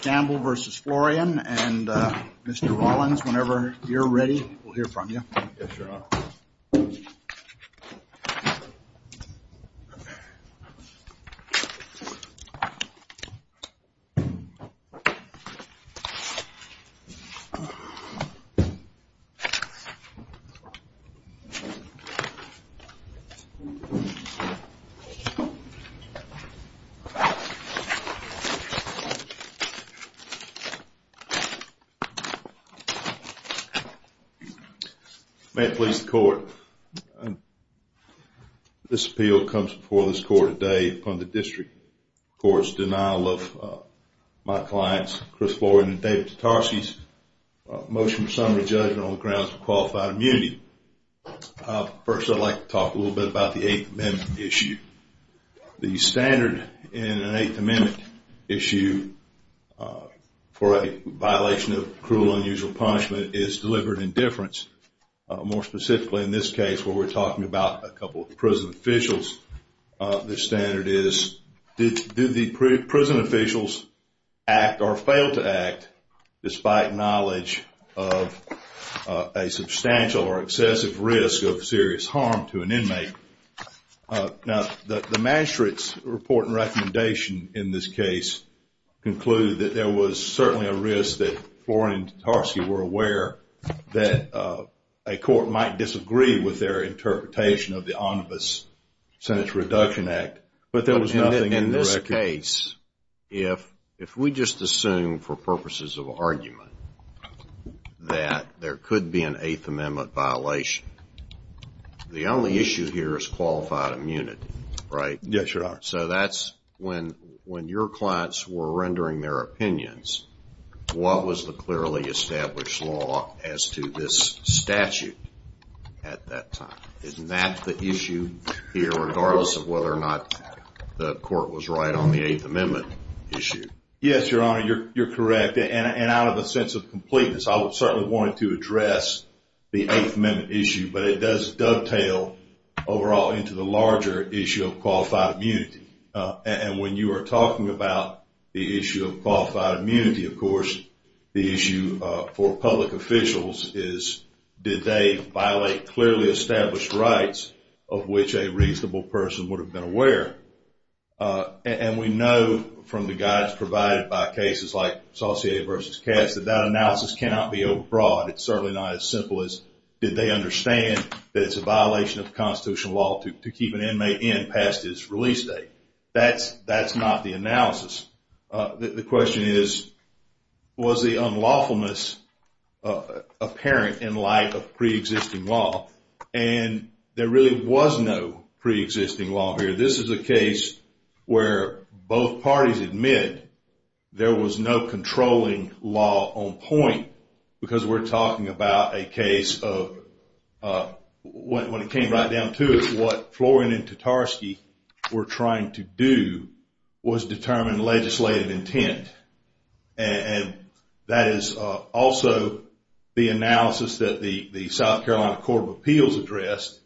Campbell versus Florian and Mr. Rollins whenever you're ready. We'll hear from you May it please the court, this appeal comes before this court today on the district court's denial of my clients Chris Florian and David Tatarsky's motion for summary judgment on the grounds of qualified immunity. First I'd like to talk a little bit about the eighth amendment issue for a violation of cruel unusual punishment is deliberate indifference. More specifically in this case where we're talking about a couple of prison officials the standard is did the prison officials act or fail to act despite knowledge of a substantial or excessive risk of serious harm to an inmate. Now the magistrate's report and recommendation in this case concluded that there was certainly a risk that Florian and Tatarsky were aware that a court might disagree with their interpretation of the omnibus sentence reduction act but there was nothing in this case if if we just assume for purposes of argument that there could be an eighth amendment violation the only issue here is qualified immunity right? Yes your honor. So that's when when your clients were rendering their opinions what was the clearly established law as to this statute at that time? Isn't that the issue here regardless of whether or not the court was right on the eighth amendment issue? Yes your honor you're correct and out of a sense of completeness I would certainly wanted to address the eighth amendment issue but it does overall into the larger issue of qualified immunity and when you are talking about the issue of qualified immunity of course the issue for public officials is did they violate clearly established rights of which a reasonable person would have been aware and we know from the guides provided by cases like Saucier v. Katz that that analysis cannot be abroad it's certainly not as that it's a violation of constitutional law to keep an inmate in past his release date that's that's not the analysis the question is was the unlawfulness apparent in light of pre-existing law and there really was no pre-existing law here this is a case where both parties admit there was no controlling law on point because we're talking about a case of what it came right down to is what Florin and Tartarski were trying to do was determine legislative intent and that is also the analysis that the the South Carolina Court of Appeals addressed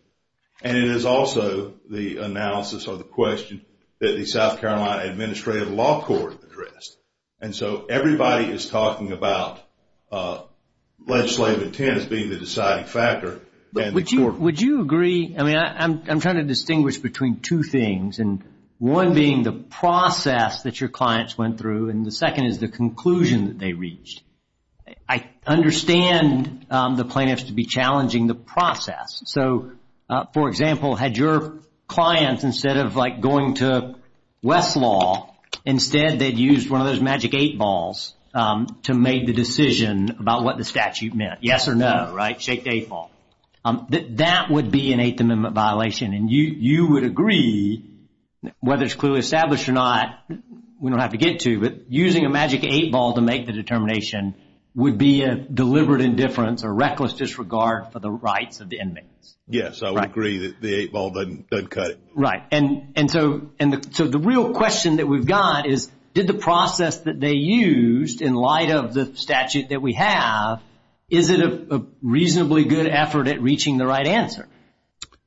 and it is also the analysis of the question that the South Carolina Administrative Law Court addressed and so everybody is talking about legislative intent as being the deciding factor. Would you agree I mean I'm trying to distinguish between two things and one being the process that your clients went through and the second is the conclusion that they reached. I understand the plaintiffs to be challenging the of like going to Westlaw instead they'd used one of those magic eight balls to make the decision about what the statute meant yes or no right shake the eight ball that that would be an eighth amendment violation and you you would agree whether it's clearly established or not we don't have to get to but using a magic eight ball to make the determination would be a deliberate indifference or reckless disregard for the rights of the inmates. Yes I would agree that the eight ball doesn't cut it. Right and and so and so the real question that we've got is did the process that they used in light of the statute that we have is it a reasonably good effort at reaching the right answer.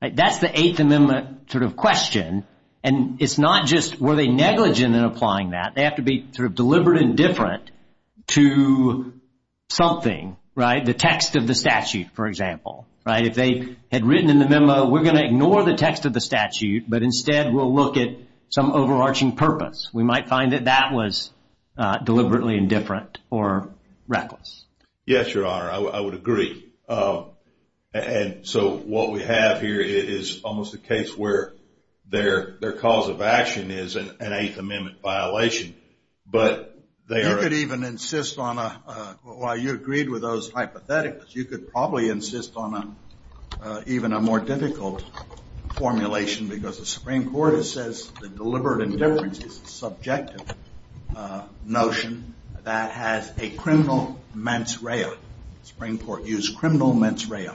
That's the eighth amendment sort of question and it's not just were they negligent in applying that they have to be sort of deliberate and different to something right the text of the statute but instead we'll look at some overarching purpose we might find that that was deliberately indifferent or reckless. Yes your honor I would agree and so what we have here is almost a case where their their cause of action is an eighth amendment violation but they could even insist on a why you agreed with those hypotheticals you could probably insist on a even a more difficult formulation because the Supreme Court it says the deliberate indifference is subjective notion that has a criminal mens rea. The Supreme Court used criminal mens rea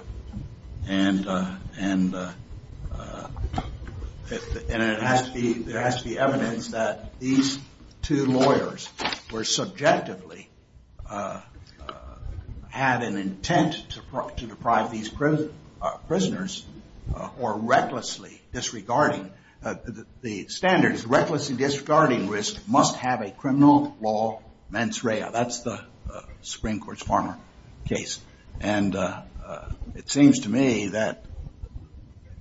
and and it has to be there has to be evidence that these two lawyers were subjectively had an intent to deprive these prisoners or recklessly disregarding the standards recklessly disregarding risk must have a criminal law mens rea. That's the Supreme Court's farmer case and it seems to me that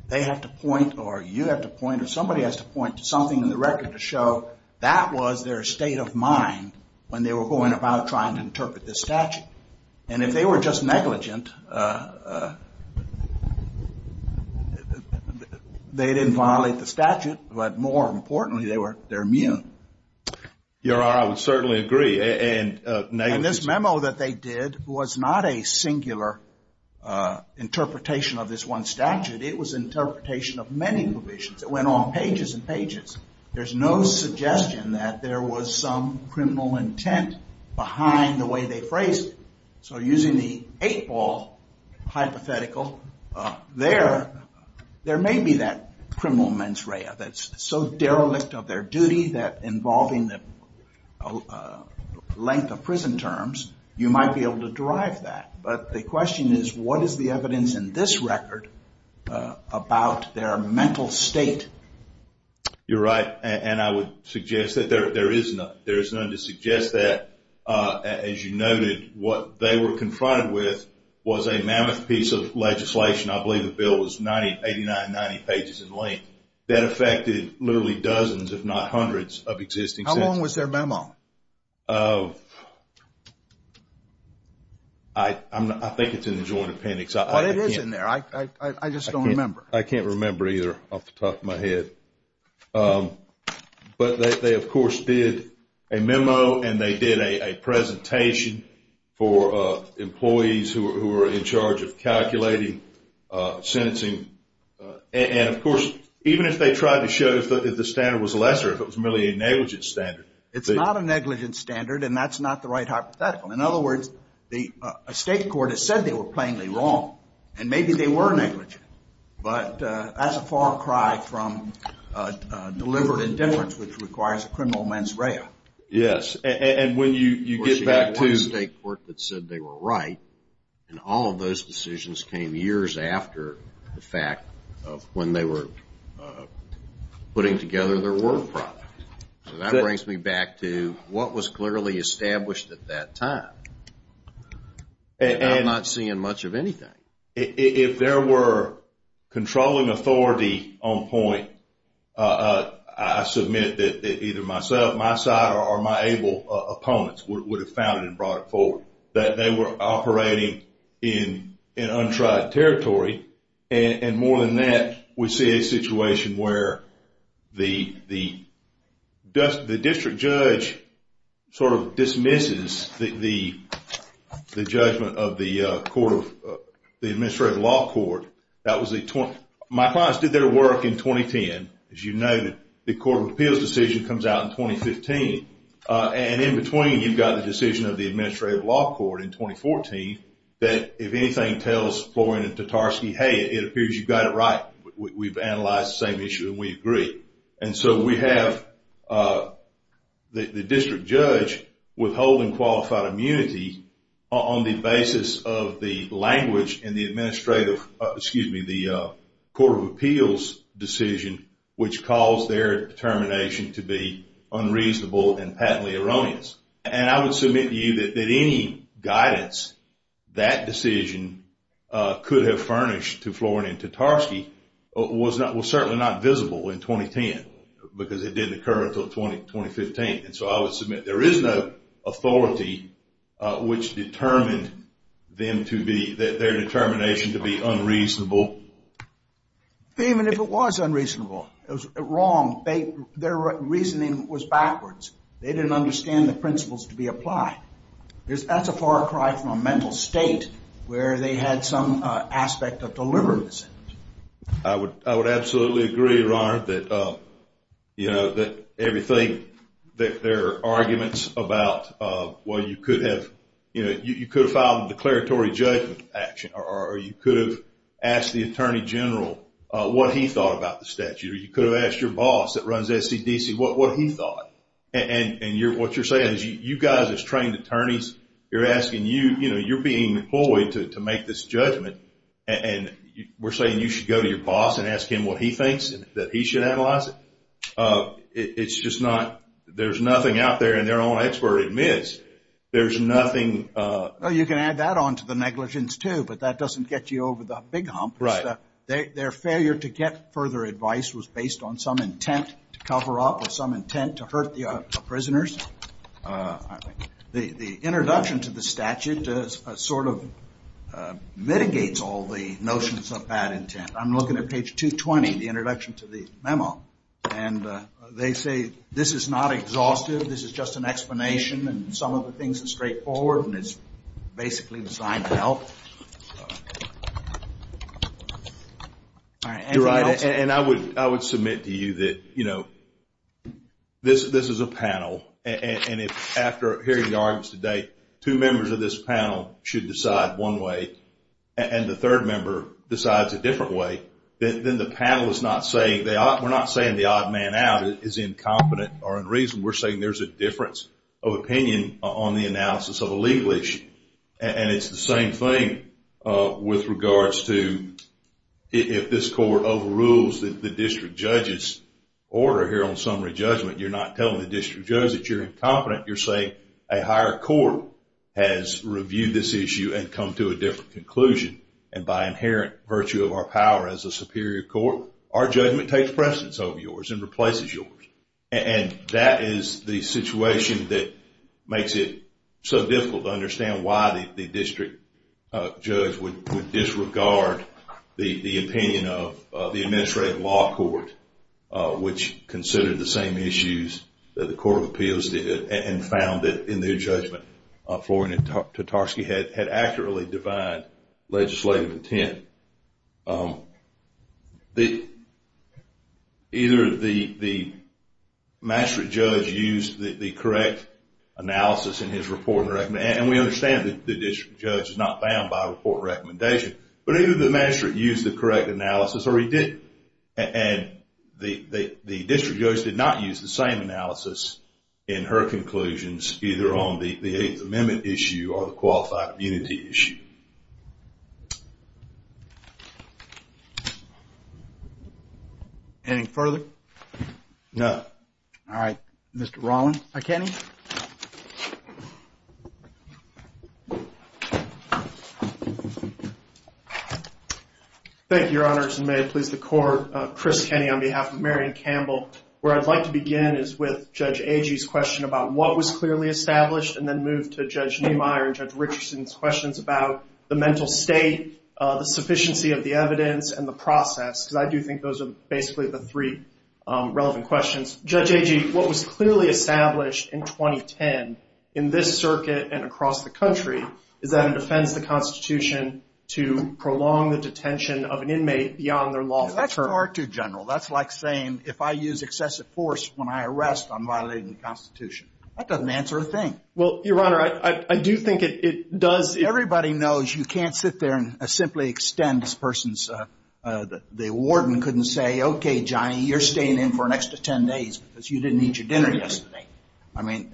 they have to point or you have to point or somebody has to point to something in the record to show that was their state of mind when they were going about trying to interpret this statute and if they were just negligent they didn't violate the statute but more importantly they were they're immune. Your honor I would certainly agree and this memo that they did was not a singular interpretation of this one statute it was interpretation of many provisions that went on pages and pages there's no suggestion that there was some criminal intent behind the way they phrased it. So using the eight ball hypothetical there there may be that criminal mens rea that's so derelict of their duty that involving the length of prison terms you might be able to derive that but the question is what is the evidence in this record about their mental state? You're right and I would suggest that there there is none there's none to suggest that as you noted what they were confronted with was a mammoth piece of legislation I believe the bill was ninety eighty nine ninety pages in length that affected literally dozens if not hundreds of existing. How long was their memo? I think it's in the joint appendix. Well it is in there I just don't remember. I can't remember either off the top of my head but they of course did a memo and they did a presentation for employees who were in charge of calculating sentencing and of course even if they tried to show if the standard was lesser if it was merely a negligent standard. It's not a negligent standard and that's not the right hypothetical in other words the state court has said they were plainly wrong and maybe they were negligent but that's a far cry from delivered indifference which requires a criminal mens rea. Yes and when you you get back to the state court that said they were right and all of those decisions came years after the fact of when they were putting together their work product. That brings me back to what was clearly established at that time. I'm not seeing much of anything. If there were controlling authority on point I submit that either myself my side or my able opponents would have found it and brought it forward that they were operating in an untried territory and more than that we see a the district judge sort of dismisses the judgment of the administrative law court. My clients did their work in 2010. As you noted the court of appeals decision comes out in 2015 and in between you've got the decision of the administrative law court in 2014 that if anything tells Florian and Tatarsky hey it appears you've got it right. We've analyzed the same issue and we agree and so we have the district judge withholding qualified immunity on the basis of the language in the administrative excuse me the court of appeals decision which calls their determination to be unreasonable and patently erroneous and I would submit to you that any guidance that decision could have furnished to was certainly not visible in 2010 because it didn't occur until 2015 and so I would submit there is no authority which determined their determination to be unreasonable. Even if it was unreasonable it was wrong. Their reasoning was backwards. They didn't understand the principles to be applied. That's a far cry from a mental state where they had some aspect of I would absolutely agree that there are arguments about you could have filed a declaratory judgment action or you could have asked the attorney general what he thought about the statute or you could have asked your boss that runs SCDC what he thought and what you're you're being employed to make this judgment and we're saying you should go to your boss and ask him what he thinks that he should analyze it. It's just not there's nothing out there and their own expert admits there's nothing. You can add that on to the negligence too but that doesn't get you over the big hump. Their failure to get further advice was based on to cover up or some intent to hurt the prisoners. The introduction to the statute sort of mitigates all the notions of bad intent. I'm looking at page 220 the introduction to the memo and they say this is not exhaustive. This is just an explanation and some of the things are straightforward and it's basically designed to help. You're right and I would submit to you that this is a panel and if after hearing the arguments today two members of this panel should decide one way and the third member decides a different way then the panel is not saying we're not saying the odd man out. It is incompetent or unreasonable. We're saying there's a difference of opinion on the analysis of a legal issue and it's the same thing with regards to if this court overrules the district judge's order here on summary judgment. You're not telling the district judge that you're incompetent. You're saying a higher court has reviewed this issue and come to a different conclusion and by inherent virtue of our power as a superior court our judgment takes precedence over yours and replaces yours and that is the situation that makes it so difficult to understand why the district judge would disregard the opinion of the administrative law court which considered the same issues that the court of appeals did and found that in their judgment Florian Tartarski had accurately defined legislative intent. Either the master judge used the correct analysis in his report and we understand that the district judge is not bound by report recommendation but either the master used the correct analysis or he did and the district judge did not use the same analysis in her conclusions either on the eighth amendment issue or the qualified community issue. Any further? No. Alright Mr. Rawlings. Thank you your honors and may it please the court. Chris Kenny on behalf of Marion Campbell. Where I'd like to begin is with Judge Agee's question about what was clearly established and then move to Judge Niemeyer and Judge Richardson's questions about the mental state, the sufficiency of the evidence and the process because I do think those are basically the three relevant questions. Judge Agee what was clearly established in 2010 in this circuit and across the country is that it defends the Constitution to prolong the detention of an inmate beyond their lawful term. That's far too general. That's like saying if I use excessive force when I arrest I'm violating the Constitution. That doesn't answer a thing. Well your honor I do think it does. Everybody knows you can't sit there and simply extend this person's, the warden couldn't say okay Johnny you're staying in for an extra ten days because you didn't eat your dinner yesterday. I mean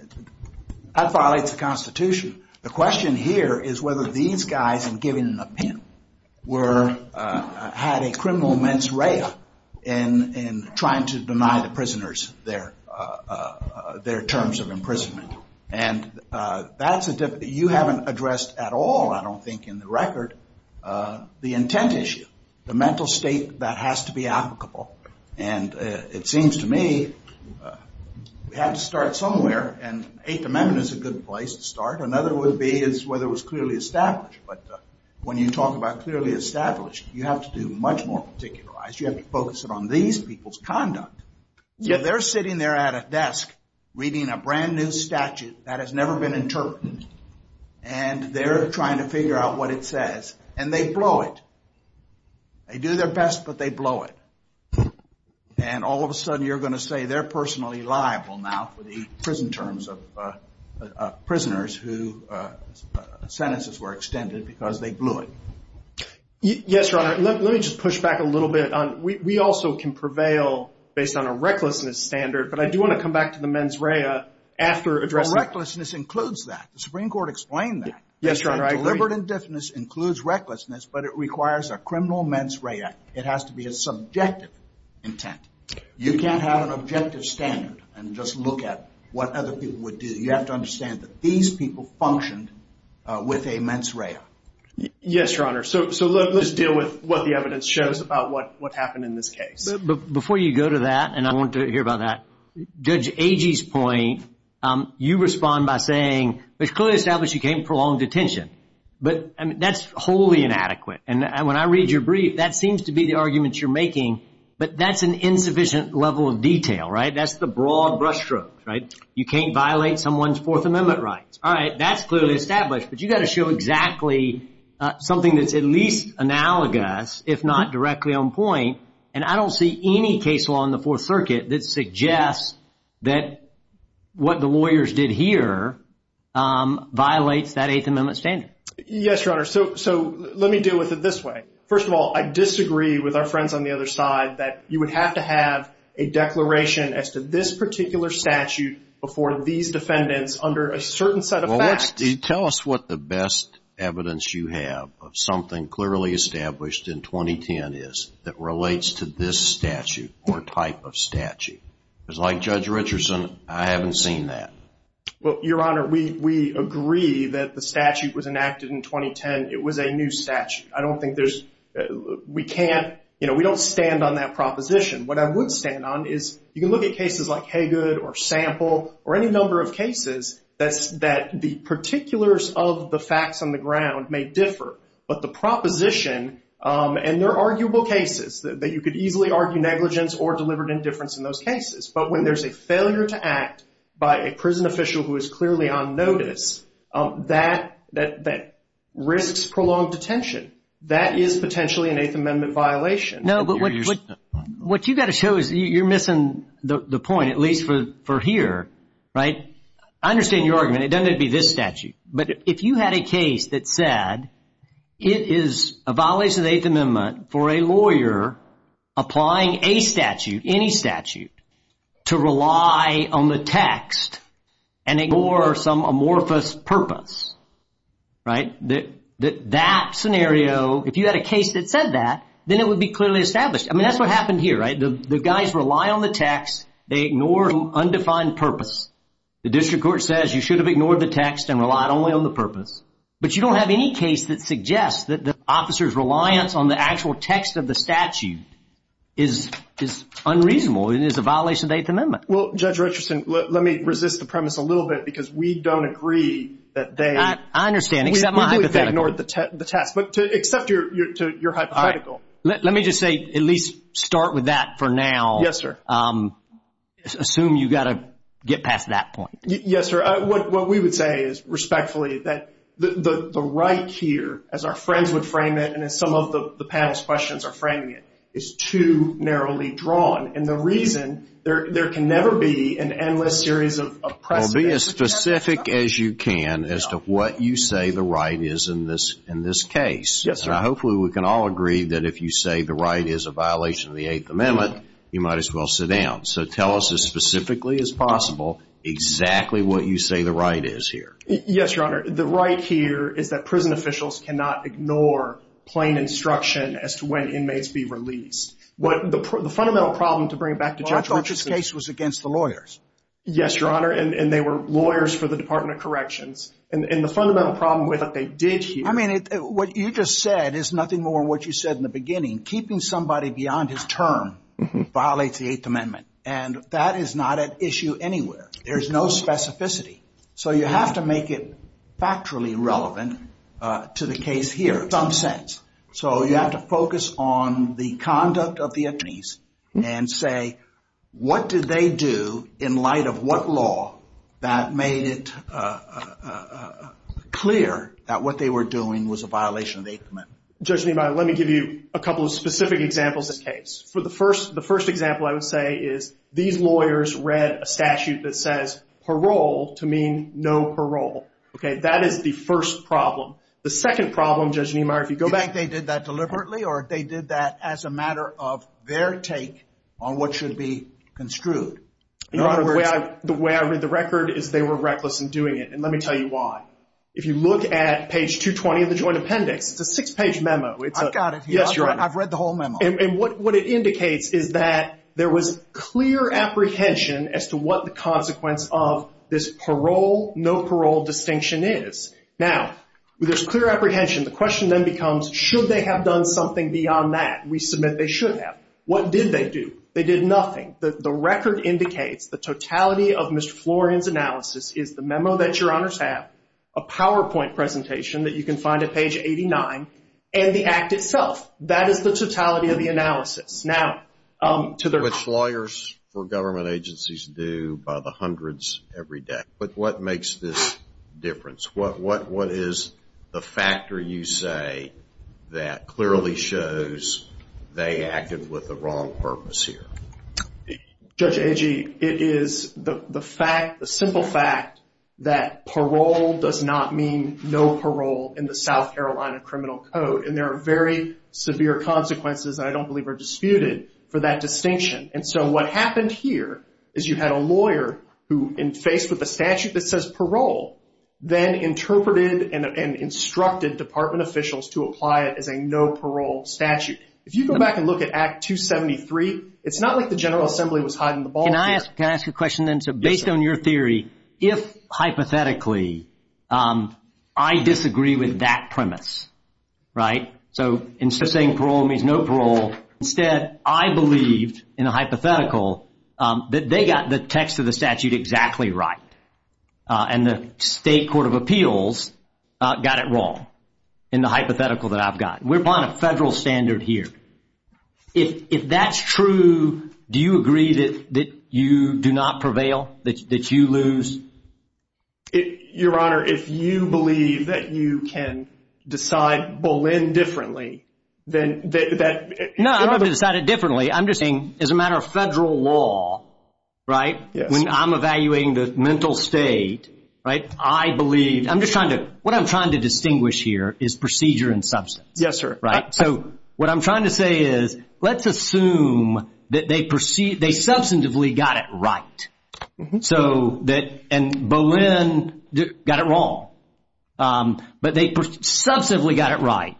that violates the Constitution. The question here is whether these guys in giving an opinion were, had a criminal mens rea in trying to deny the prisoners their terms of imprisonment. And that's a, you haven't addressed at all I don't think in the record the intent issue. The mental state that has to be applicable and it seems to me we have to start somewhere and Eighth Amendment is a good place to start. Another would be is whether it was clearly established. But when you talk about clearly established you have to do much more particularized. You have to focus it on these people's conduct. If they're sitting there at a desk reading a brand new statute that has never been interpreted and they're trying to figure out what it says and they blow it. They do their best but they blow it. And all of a sudden you're going to say they're sentences were extended because they blew it. Yes your honor. Let me just push back a little bit. We also can prevail based on a recklessness standard but I do want to come back to the mens rea. Recklessness includes that. The Supreme Court explained that. Deliberate indifference includes recklessness but it requires a criminal mens rea. It has to be a subjective intent. You can't have an objective standard and just look at what other people would do. You have to understand that these people functioned with a mens rea. Yes your honor. So let's deal with what the evidence shows about what happened in this case. But before you go to that and I want to hear about that. Judge Agee's point. You respond by saying it's clearly established you can't prolong detention. But that's wholly inadequate. And when I read your brief that seems to be the argument you're making. But that's an insufficient level of detail. Right. That's the broad brushstroke. Right. You can't violate someone's Fourth Amendment rights. All right. That's clearly established. But you've got to show exactly something that's at least analogous if not directly on point. And I don't see any case law in the Fourth Circuit that suggests that what the lawyers did here violates that Eighth Amendment standard. Yes your honor. So let me deal with it this way. First of all I disagree with our friends on the other side that you would have to have a declaration as to this particular statute before these defendants under a certain set of facts. Tell us what the best evidence you have of something clearly established in 2010 is that relates to this statute or type of statute. Because like Judge Richardson I haven't seen that. Well your honor we agree that the statute was enacted in 2010. It was a new statute. I don't think there's we can't you know we don't stand on that proposition. What I would stand on is you can look at cases like Haygood or Sample or any number of cases that the particulars of the facts on the ground may differ. But the proposition and they're arguable cases that you could easily argue negligence or deliberate indifference in those cases. But when there's a failure to act by a prison official who is clearly on notice that risks prolonged detention. That is potentially an Eighth Amendment violation. No but what you've got to show is you're missing the point at least for here. Right. I understand your argument. It doesn't have to be this statute. But if you had a case that said it is a violation of the Eighth Amendment for a lawyer applying a statute any statute to rely on the text and ignore some amorphous purpose. Right. That scenario if you had a case that said that then it would be clearly established. I mean that's what happened here right. The guys rely on the text they ignore undefined purpose. The district court says you should have ignored the text and relied only on the purpose. But you don't have any case that suggests that the officer's reliance on the actual text of the statute is unreasonable and is a violation of the Eighth Amendment. Well Judge Richardson let me resist the premise a little bit because we don't agree that they. I understand. We believe they ignored the test. But to accept your hypothetical. Let me just say at least start with that for now. Yes sir. Assume you've got to get past that point. Yes sir. What we would say is respectfully that the right here as our friends would frame it and as some of the panel's questions are framing it is too narrowly drawn. And the reason there can never be an endless series of precedent. Well be as specific as you can as to what you say the right is in this case. Hopefully we can all agree that if you say the right is a violation of the Eighth Amendment you might as well sit down. So tell us as specifically as possible exactly what you say the right is here. Yes Your Honor. The right here is that prison officials cannot ignore plain instruction as to when inmates be released. What the fundamental problem to bring back to Judge Richardson. Well I thought this case was against the lawyers. Yes Your Honor. And they were lawyers for the Department of Corrections. And the fundamental problem with what they did here. I mean what you just said is nothing more what you said in the beginning. Keeping somebody beyond his term violates the Eighth Amendment. And that is not an issue anywhere. There is no specificity. So you have to make it factually relevant to the case here in some sense. So you have to focus on the conduct of the inmates and say what did they do in light of what law that made it clear that what they were doing was a violation of the Eighth Amendment. Judge Niemeyer let me give you a couple of specific examples of this case. The first example I would say is these lawyers read a statute that says parole to mean no parole. That is the first problem. The second problem Judge Niemeyer if you go back. Did they did that deliberately or did they did that as a matter of their take on what should be construed. Your Honor the way I read the record is they were reckless in doing it. And let me tell you why. If you look at page 220 of the Joint Appendix it's a six page memo. I've got it here. I've read the whole memo. And what it indicates is that there was clear apprehension as to what the consequence of this parole no parole distinction is. Now with this clear apprehension the question then becomes should they have done something beyond that. We submit they should have. What did they do. They did nothing. The record indicates the totality of Mr. Florian's analysis is the memo that your honors have. A PowerPoint presentation that you can find at page 89 and the act itself. That is the totality of the analysis. Which lawyers for government agencies do by the hundreds every day. But what makes this difference. What is the factor you say that clearly shows they acted with the wrong purpose here. Judge Agee it is the fact the simple fact that parole does not mean no parole in the South Carolina Criminal Code. And there are very severe consequences I don't believe are disputed for that distinction. And so what happened here is you had a lawyer who in face with the statute that says parole then interpreted and instructed department officials to apply it as a no parole statute. If you go back and look at Act 273 it's not like the General Assembly was hiding the ball here. Can I ask a question then. So based on your theory if hypothetically I disagree with that premise right. So instead of saying parole means no parole. Instead I believe in a hypothetical that they got the text of the statute exactly right. And the state court of appeals got it wrong in the hypothetical that I've got. We're on a federal standard here. If that's true do you agree that you do not prevail that you lose. Your Honor if you believe that you can decide Boleyn differently then that. No I'm not going to decide it differently. I'm just saying as a matter of federal law right. When I'm evaluating the mental state right. I believe I'm just trying to what I'm trying to distinguish here is procedure and substance. Yes sir. Right. So what I'm trying to say is let's assume that they perceive they substantively got it right. So that and Boleyn got it wrong but they substantively got it right.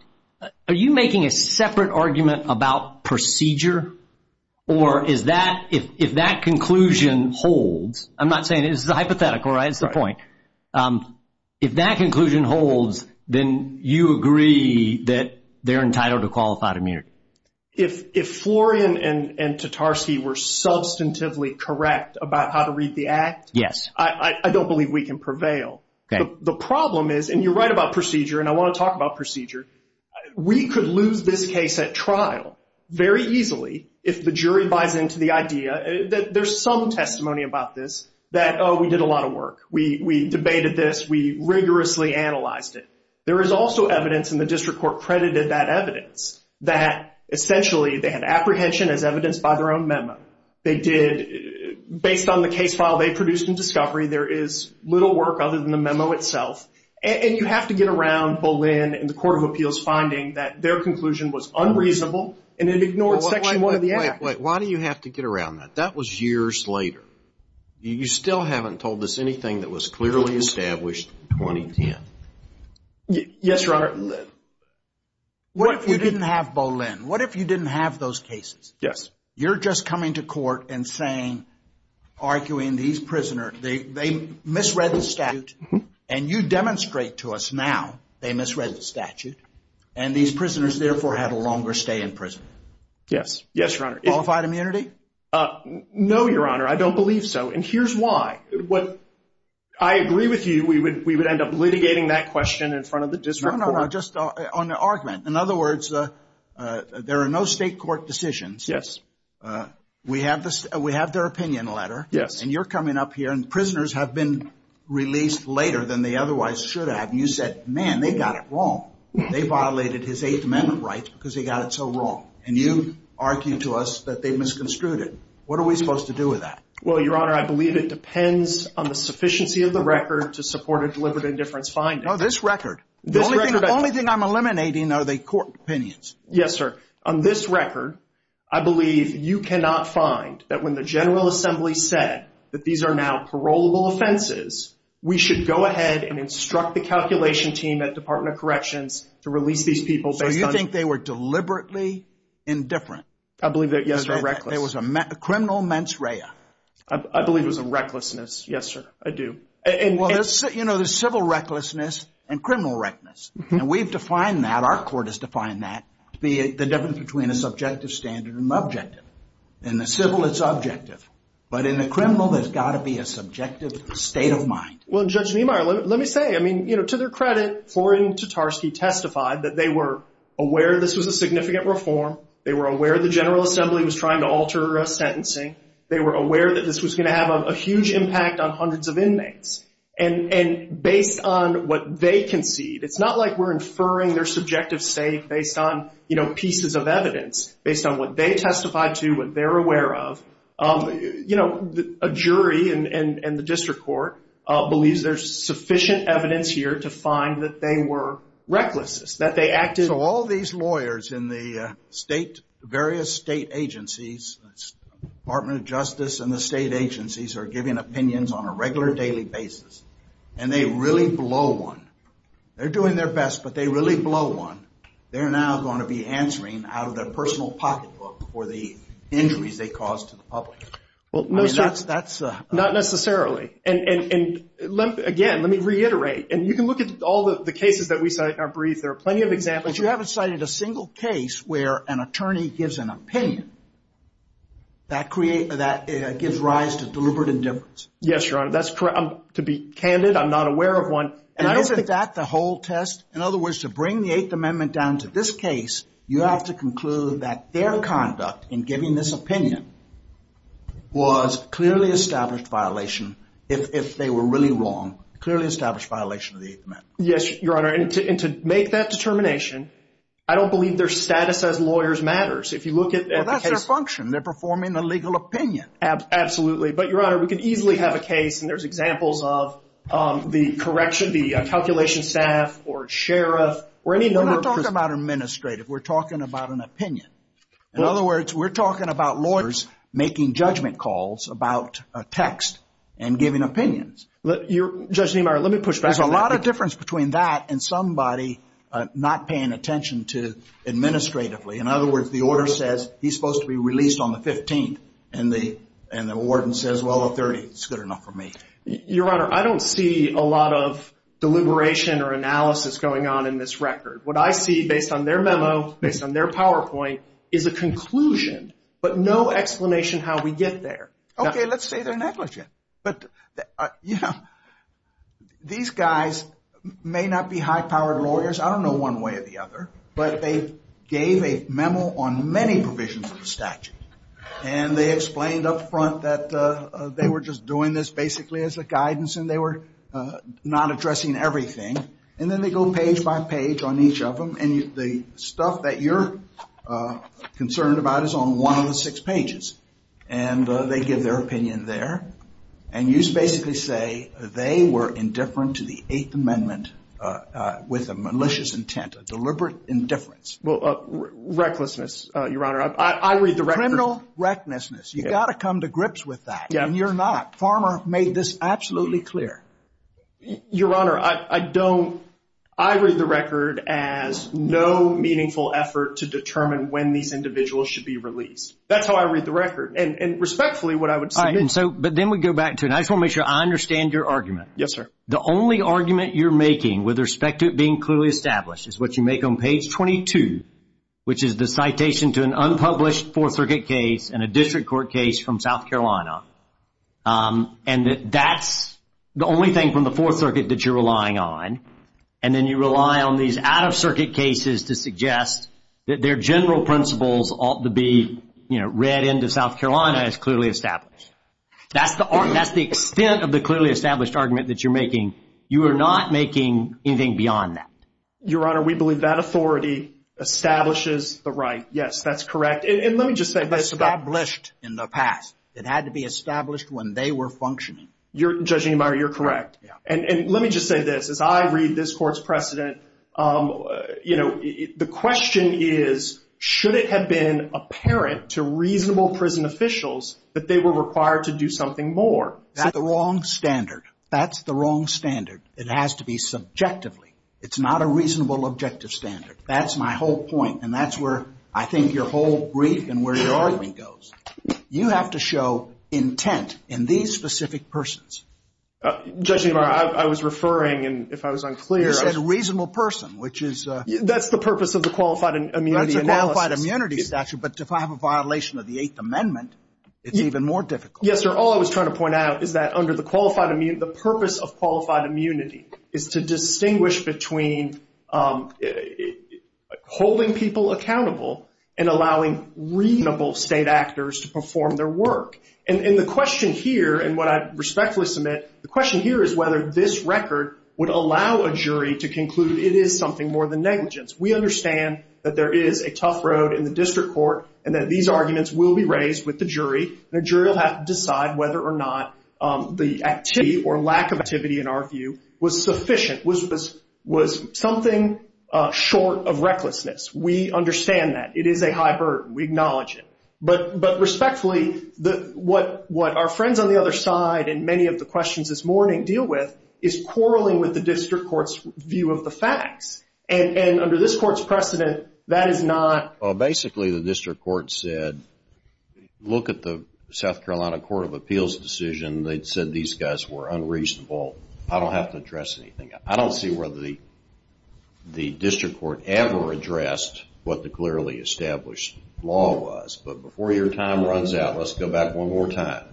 Are you making a separate argument about procedure or is that if that conclusion holds. I'm not saying it is a hypothetical right. That's the point. If that conclusion holds then you agree that they're entitled to qualified immunity. If Florian and Tatarsky were substantively correct about how to read the act. Yes. I don't believe we can prevail. The problem is and you're right about procedure and I want to talk about procedure. We could lose this case at trial very easily if the jury buys into the idea that there's some testimony about this. That oh we did a lot of work. We debated this. We rigorously analyzed it. There is also evidence in the district court credited that evidence. That essentially they had apprehension as evidenced by their own memo. Based on the case file they produced in discovery there is little work other than the memo itself. And you have to get around Boleyn and the court of appeals finding that their conclusion was unreasonable and it ignored section 1 of the act. Why do you have to get around that? That was years later. You still haven't told us anything that was clearly established in 2010. Yes your honor. What if you didn't have Boleyn? What if you didn't have those cases? Yes. You're just coming to court and saying arguing these prisoners. They misread the statute. And you demonstrate to us now they misread the statute. And these prisoners therefore had a longer stay in prison. Yes. Yes your honor. Qualified immunity? No your honor. I don't believe so. And here's why. I agree with you. We would end up litigating that question in front of the district court. No no no. Just on the argument. In other words there are no state court decisions. Yes. We have their opinion letter. Yes. And you're coming up here and prisoners have been released later than they otherwise should have. And you said man they got it wrong. They violated his 8th amendment rights because they got it so wrong. And you argue to us that they misconstrued it. What are we supposed to do with that? Well your honor I believe it depends on the sufficiency of the record to support a deliberate indifference finding. No this record. The only thing I'm eliminating are the court opinions. Yes sir. On this record I believe you cannot find that when the general assembly said that these are now parolable offenses we should go ahead and instruct the calculation team at the department of corrections to release these people. So you think they were deliberately indifferent? I believe that yes. There was a criminal mens rea. I believe it was a recklessness. Yes sir I do. Well you know there's civil recklessness and criminal recklessness. And we've defined that. Our court has defined that to be the difference between a subjective standard and an objective. In the civil it's objective. But in the criminal there's got to be a subjective state of mind. Well Judge Niemeyer let me say to their credit Florian Tatarski testified that they were aware this was a significant reform. They were aware the general assembly was trying to alter a sentencing. They were aware that this was going to have a huge impact on hundreds of inmates. And based on what they concede it's not like we're inferring their subjective state based on pieces of evidence. Based on what they testified to. What they're aware of. You know a jury and the district court believes there's sufficient evidence here to find that they were reckless. That they acted. So all these lawyers in the state various state agencies. Department of Justice and the state agencies are giving opinions on a regular daily basis. And they really blow one. They're doing their best but they really blow one. They're now going to be answering out of their personal pocketbook for the injuries they caused to the public. Not necessarily. And again let me reiterate. And you can look at all the cases that we cite in our brief. There are plenty of examples. But you haven't cited a single case where an attorney gives an opinion. That gives rise to deliberate indifference. Yes your honor. That's correct. To be candid I'm not aware of one. And isn't that the whole test? In other words to bring the 8th amendment down to this case you have to conclude that their conduct in giving this opinion was clearly established violation. If they were really wrong. Clearly established violation of the 8th amendment. Yes your honor. And to make that determination. I don't believe their status as lawyers matters. Well that's their function. They're performing a legal opinion. Absolutely. But your honor we can easily have a case and there's examples of the correction. The calculation staff or sheriff. We're not talking about administrative. We're talking about an opinion. In other words we're talking about lawyers making judgment calls about a text and giving opinions. There's a lot of difference between that and somebody not paying attention to administratively. In other words the order says he's supposed to be released on the 15th. And the warden says well the 30th is good enough for me. Your honor I don't see a lot of deliberation or analysis going on in this record. What I see based on their memo based on their PowerPoint is a conclusion. But no explanation how we get there. Okay let's say they're negligent. These guys may not be high powered lawyers. I don't know one way or the other. But they gave a memo on many provisions of the statute. And they explained up front that they were just doing this basically as a guidance and they were not addressing everything. And then they go page by page on each of them. And the stuff that you're concerned about is on one of the six pages. And they give their opinion there. And you basically say they were indifferent to the Eighth Amendment with a malicious intent. A deliberate indifference. Well recklessness your honor. I read the record. Criminal recklessness. You've got to come to grips with that. And you're not. Farmer made this absolutely clear. Your honor I don't. I read the record as no meaningful effort to determine when these individuals should be released. That's how I read the record. And respectfully what I would say. But then we go back to it. I just want to make sure I understand your argument. Yes sir. The only argument you're making with respect to it being clearly established is what you make on page 22. Which is the citation to an unpublished Fourth Circuit case and a district court case from South Carolina. And that's the only thing from the Fourth Circuit that you're relying on. And then you rely on these out of circuit cases to suggest that their general principles ought to be read into South Carolina as clearly established. That's the extent of the clearly established argument that you're making. You are not making anything beyond that. Your honor we believe that authority establishes the right. Yes that's correct. And let me just say. Established in the past. It had to be established when they were functioning. You're judging me. You're correct. And let me just say this as I read this court's precedent. You know the question is should it have been apparent to reasonable prison officials that they were required to do something more. That's the wrong standard. That's the wrong standard. It has to be subjectively. It's not a reasonable objective standard. That's my whole point. And that's where I think your whole brief and where your argument goes. You have to show intent in these specific persons. Judging. I was referring and if I was unclear as a reasonable person which is that's the purpose of the qualified and qualified immunity statute. But if I have a violation of the Eighth Amendment it's even more difficult. Yes sir. All I was trying to point out is that under the qualified immune the purpose of qualified is to be reasonable and allowing reasonable state actors to perform their work. And the question here and what I respectfully submit. The question here is whether this record would allow a jury to conclude it is something more than negligence. We understand that there is a tough road in the district court and that these arguments will be raised with the jury. The jury will have to decide whether or not the activity or lack of activity in our view was sufficient. Was something short of recklessness. We understand that. It is a high burden. We acknowledge it. But respectfully what our friends on the other side and many of the questions this morning deal with is quarreling with the district court's view of the facts. And under this court's precedent that is not. Basically the district court said look at the South Carolina Court of Appeals decision. They said these guys were unreasonable. I don't have to address anything. I don't see whether the district court ever addressed what the clearly established law was. But before your time runs out let's go back one more time.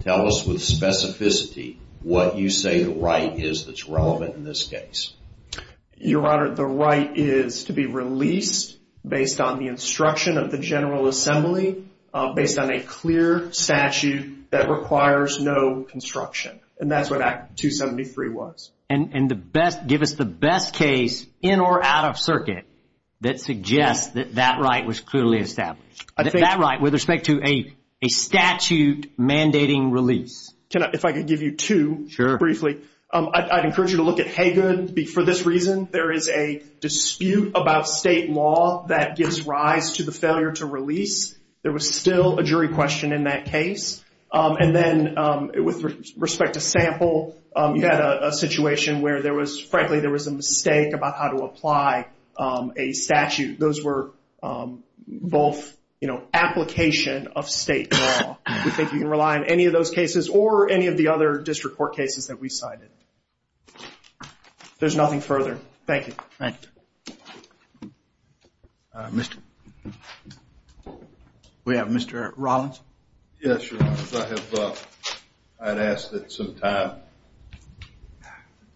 Tell us with specificity what you say the right is that's relevant in this case. Your Honor, the right is to be released based on the instruction of the General Assembly based on a clear statute that requires no construction. And that's what Act 273 was. And give us the best case in or out of circuit that suggests that that right was clearly established. That right with respect to a statute mandating release. If I could give you two briefly. I'd encourage you to look at Haygood. For this reason there is a dispute about state law that gives rise to the failure to release. There was still a jury question in that case. And then with respect to sample you had a situation where frankly there was a mistake about how to apply a statute. Those were both application of state law. We think you can rely on any of those cases or any of the other district court cases that we cited. There's nothing further. Thank you. We have Mr. Rollins. Yes, Your Honor. I'd ask that some time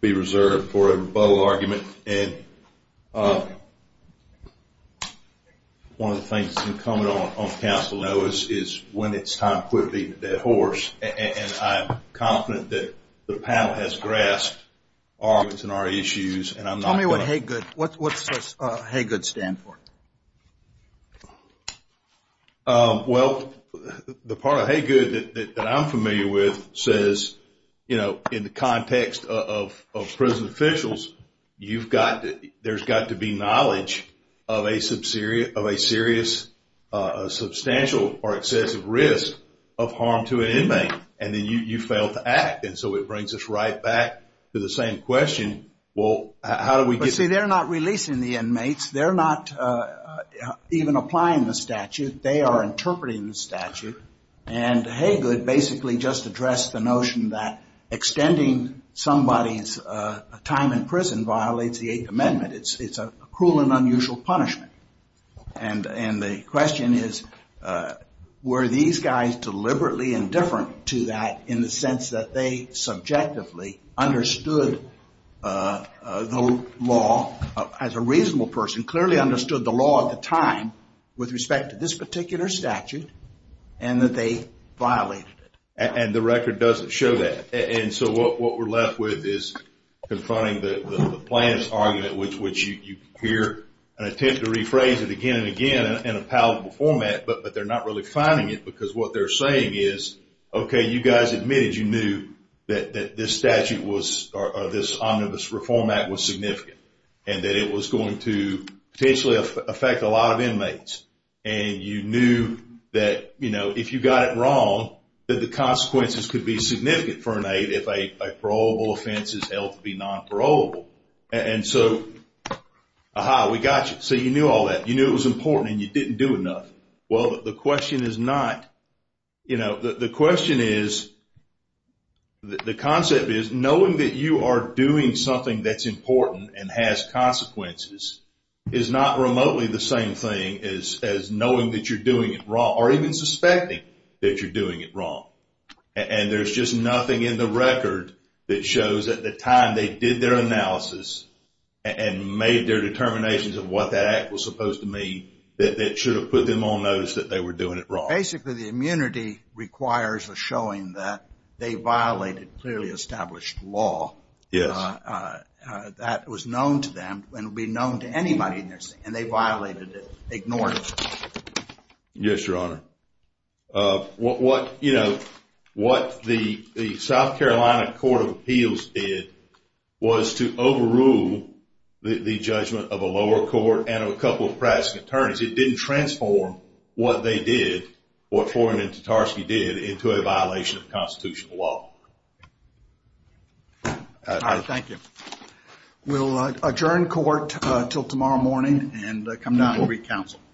be reserved for a rebuttal argument. One of the things that's been coming on council is when it's time for the horse. And I'm confident that the panel has grasped our issues. Tell me what Haygood stands for. Well, the part of Haygood that I'm familiar with says in the context of prison officials there's got to be knowledge of a serious substantial or excessive risk of harm to an inmate. And then you fail to act. And so it brings us right back to the same question. See, they're not releasing the inmates. They're not even applying the statute. They are interpreting the statute. And Haygood basically just addressed the notion that extending somebody's time in prison violates the Eighth Amendment. It's a cruel and unusual punishment. And the question is were these guys deliberately indifferent to that in the sense that they subjectively understood the law as a reasonable person, clearly understood the law at the time with respect to this particular statute and that they violated it. And the record doesn't show that. And so what we're left with is confronting the plaintiff's argument, which you hear an attempt to rephrase it again and again in a palatable format, but they're not really finding it because what they're saying is, okay, you guys admitted you knew that this statute or this Omnibus Reform Act was significant and that it was going to potentially affect a lot of inmates. And you knew that if you got it wrong, that the consequences could be significant for an aide if a parolable offense is held to be non-parolable. And so, aha, we got you. So you knew all that. You knew it was important and you didn't do enough. Well, the question is not, the question is, the concept is knowing that you are doing something that's important and has consequences is not remotely the same thing as knowing that you're doing it wrong or even suspecting that you're doing it wrong. And there's just nothing in the record that shows at the time they did their analysis and made their determinations of what that act was supposed to mean that should have put them on notice that they were doing it wrong. Basically, the immunity requires a showing that they violated clearly established law. Yes. That was known to them and will be known to anybody and they violated it, ignored it. Yes, Your Honor. What, you know, what the South Carolina Court of Appeals did was to overrule the judgment of a lower court and a couple of practicing attorneys. It didn't transform what they did, what Foreman and Tartarski did, into a violation of constitutional law. Thank you. We'll adjourn court until tomorrow morning and come down and re-counsel.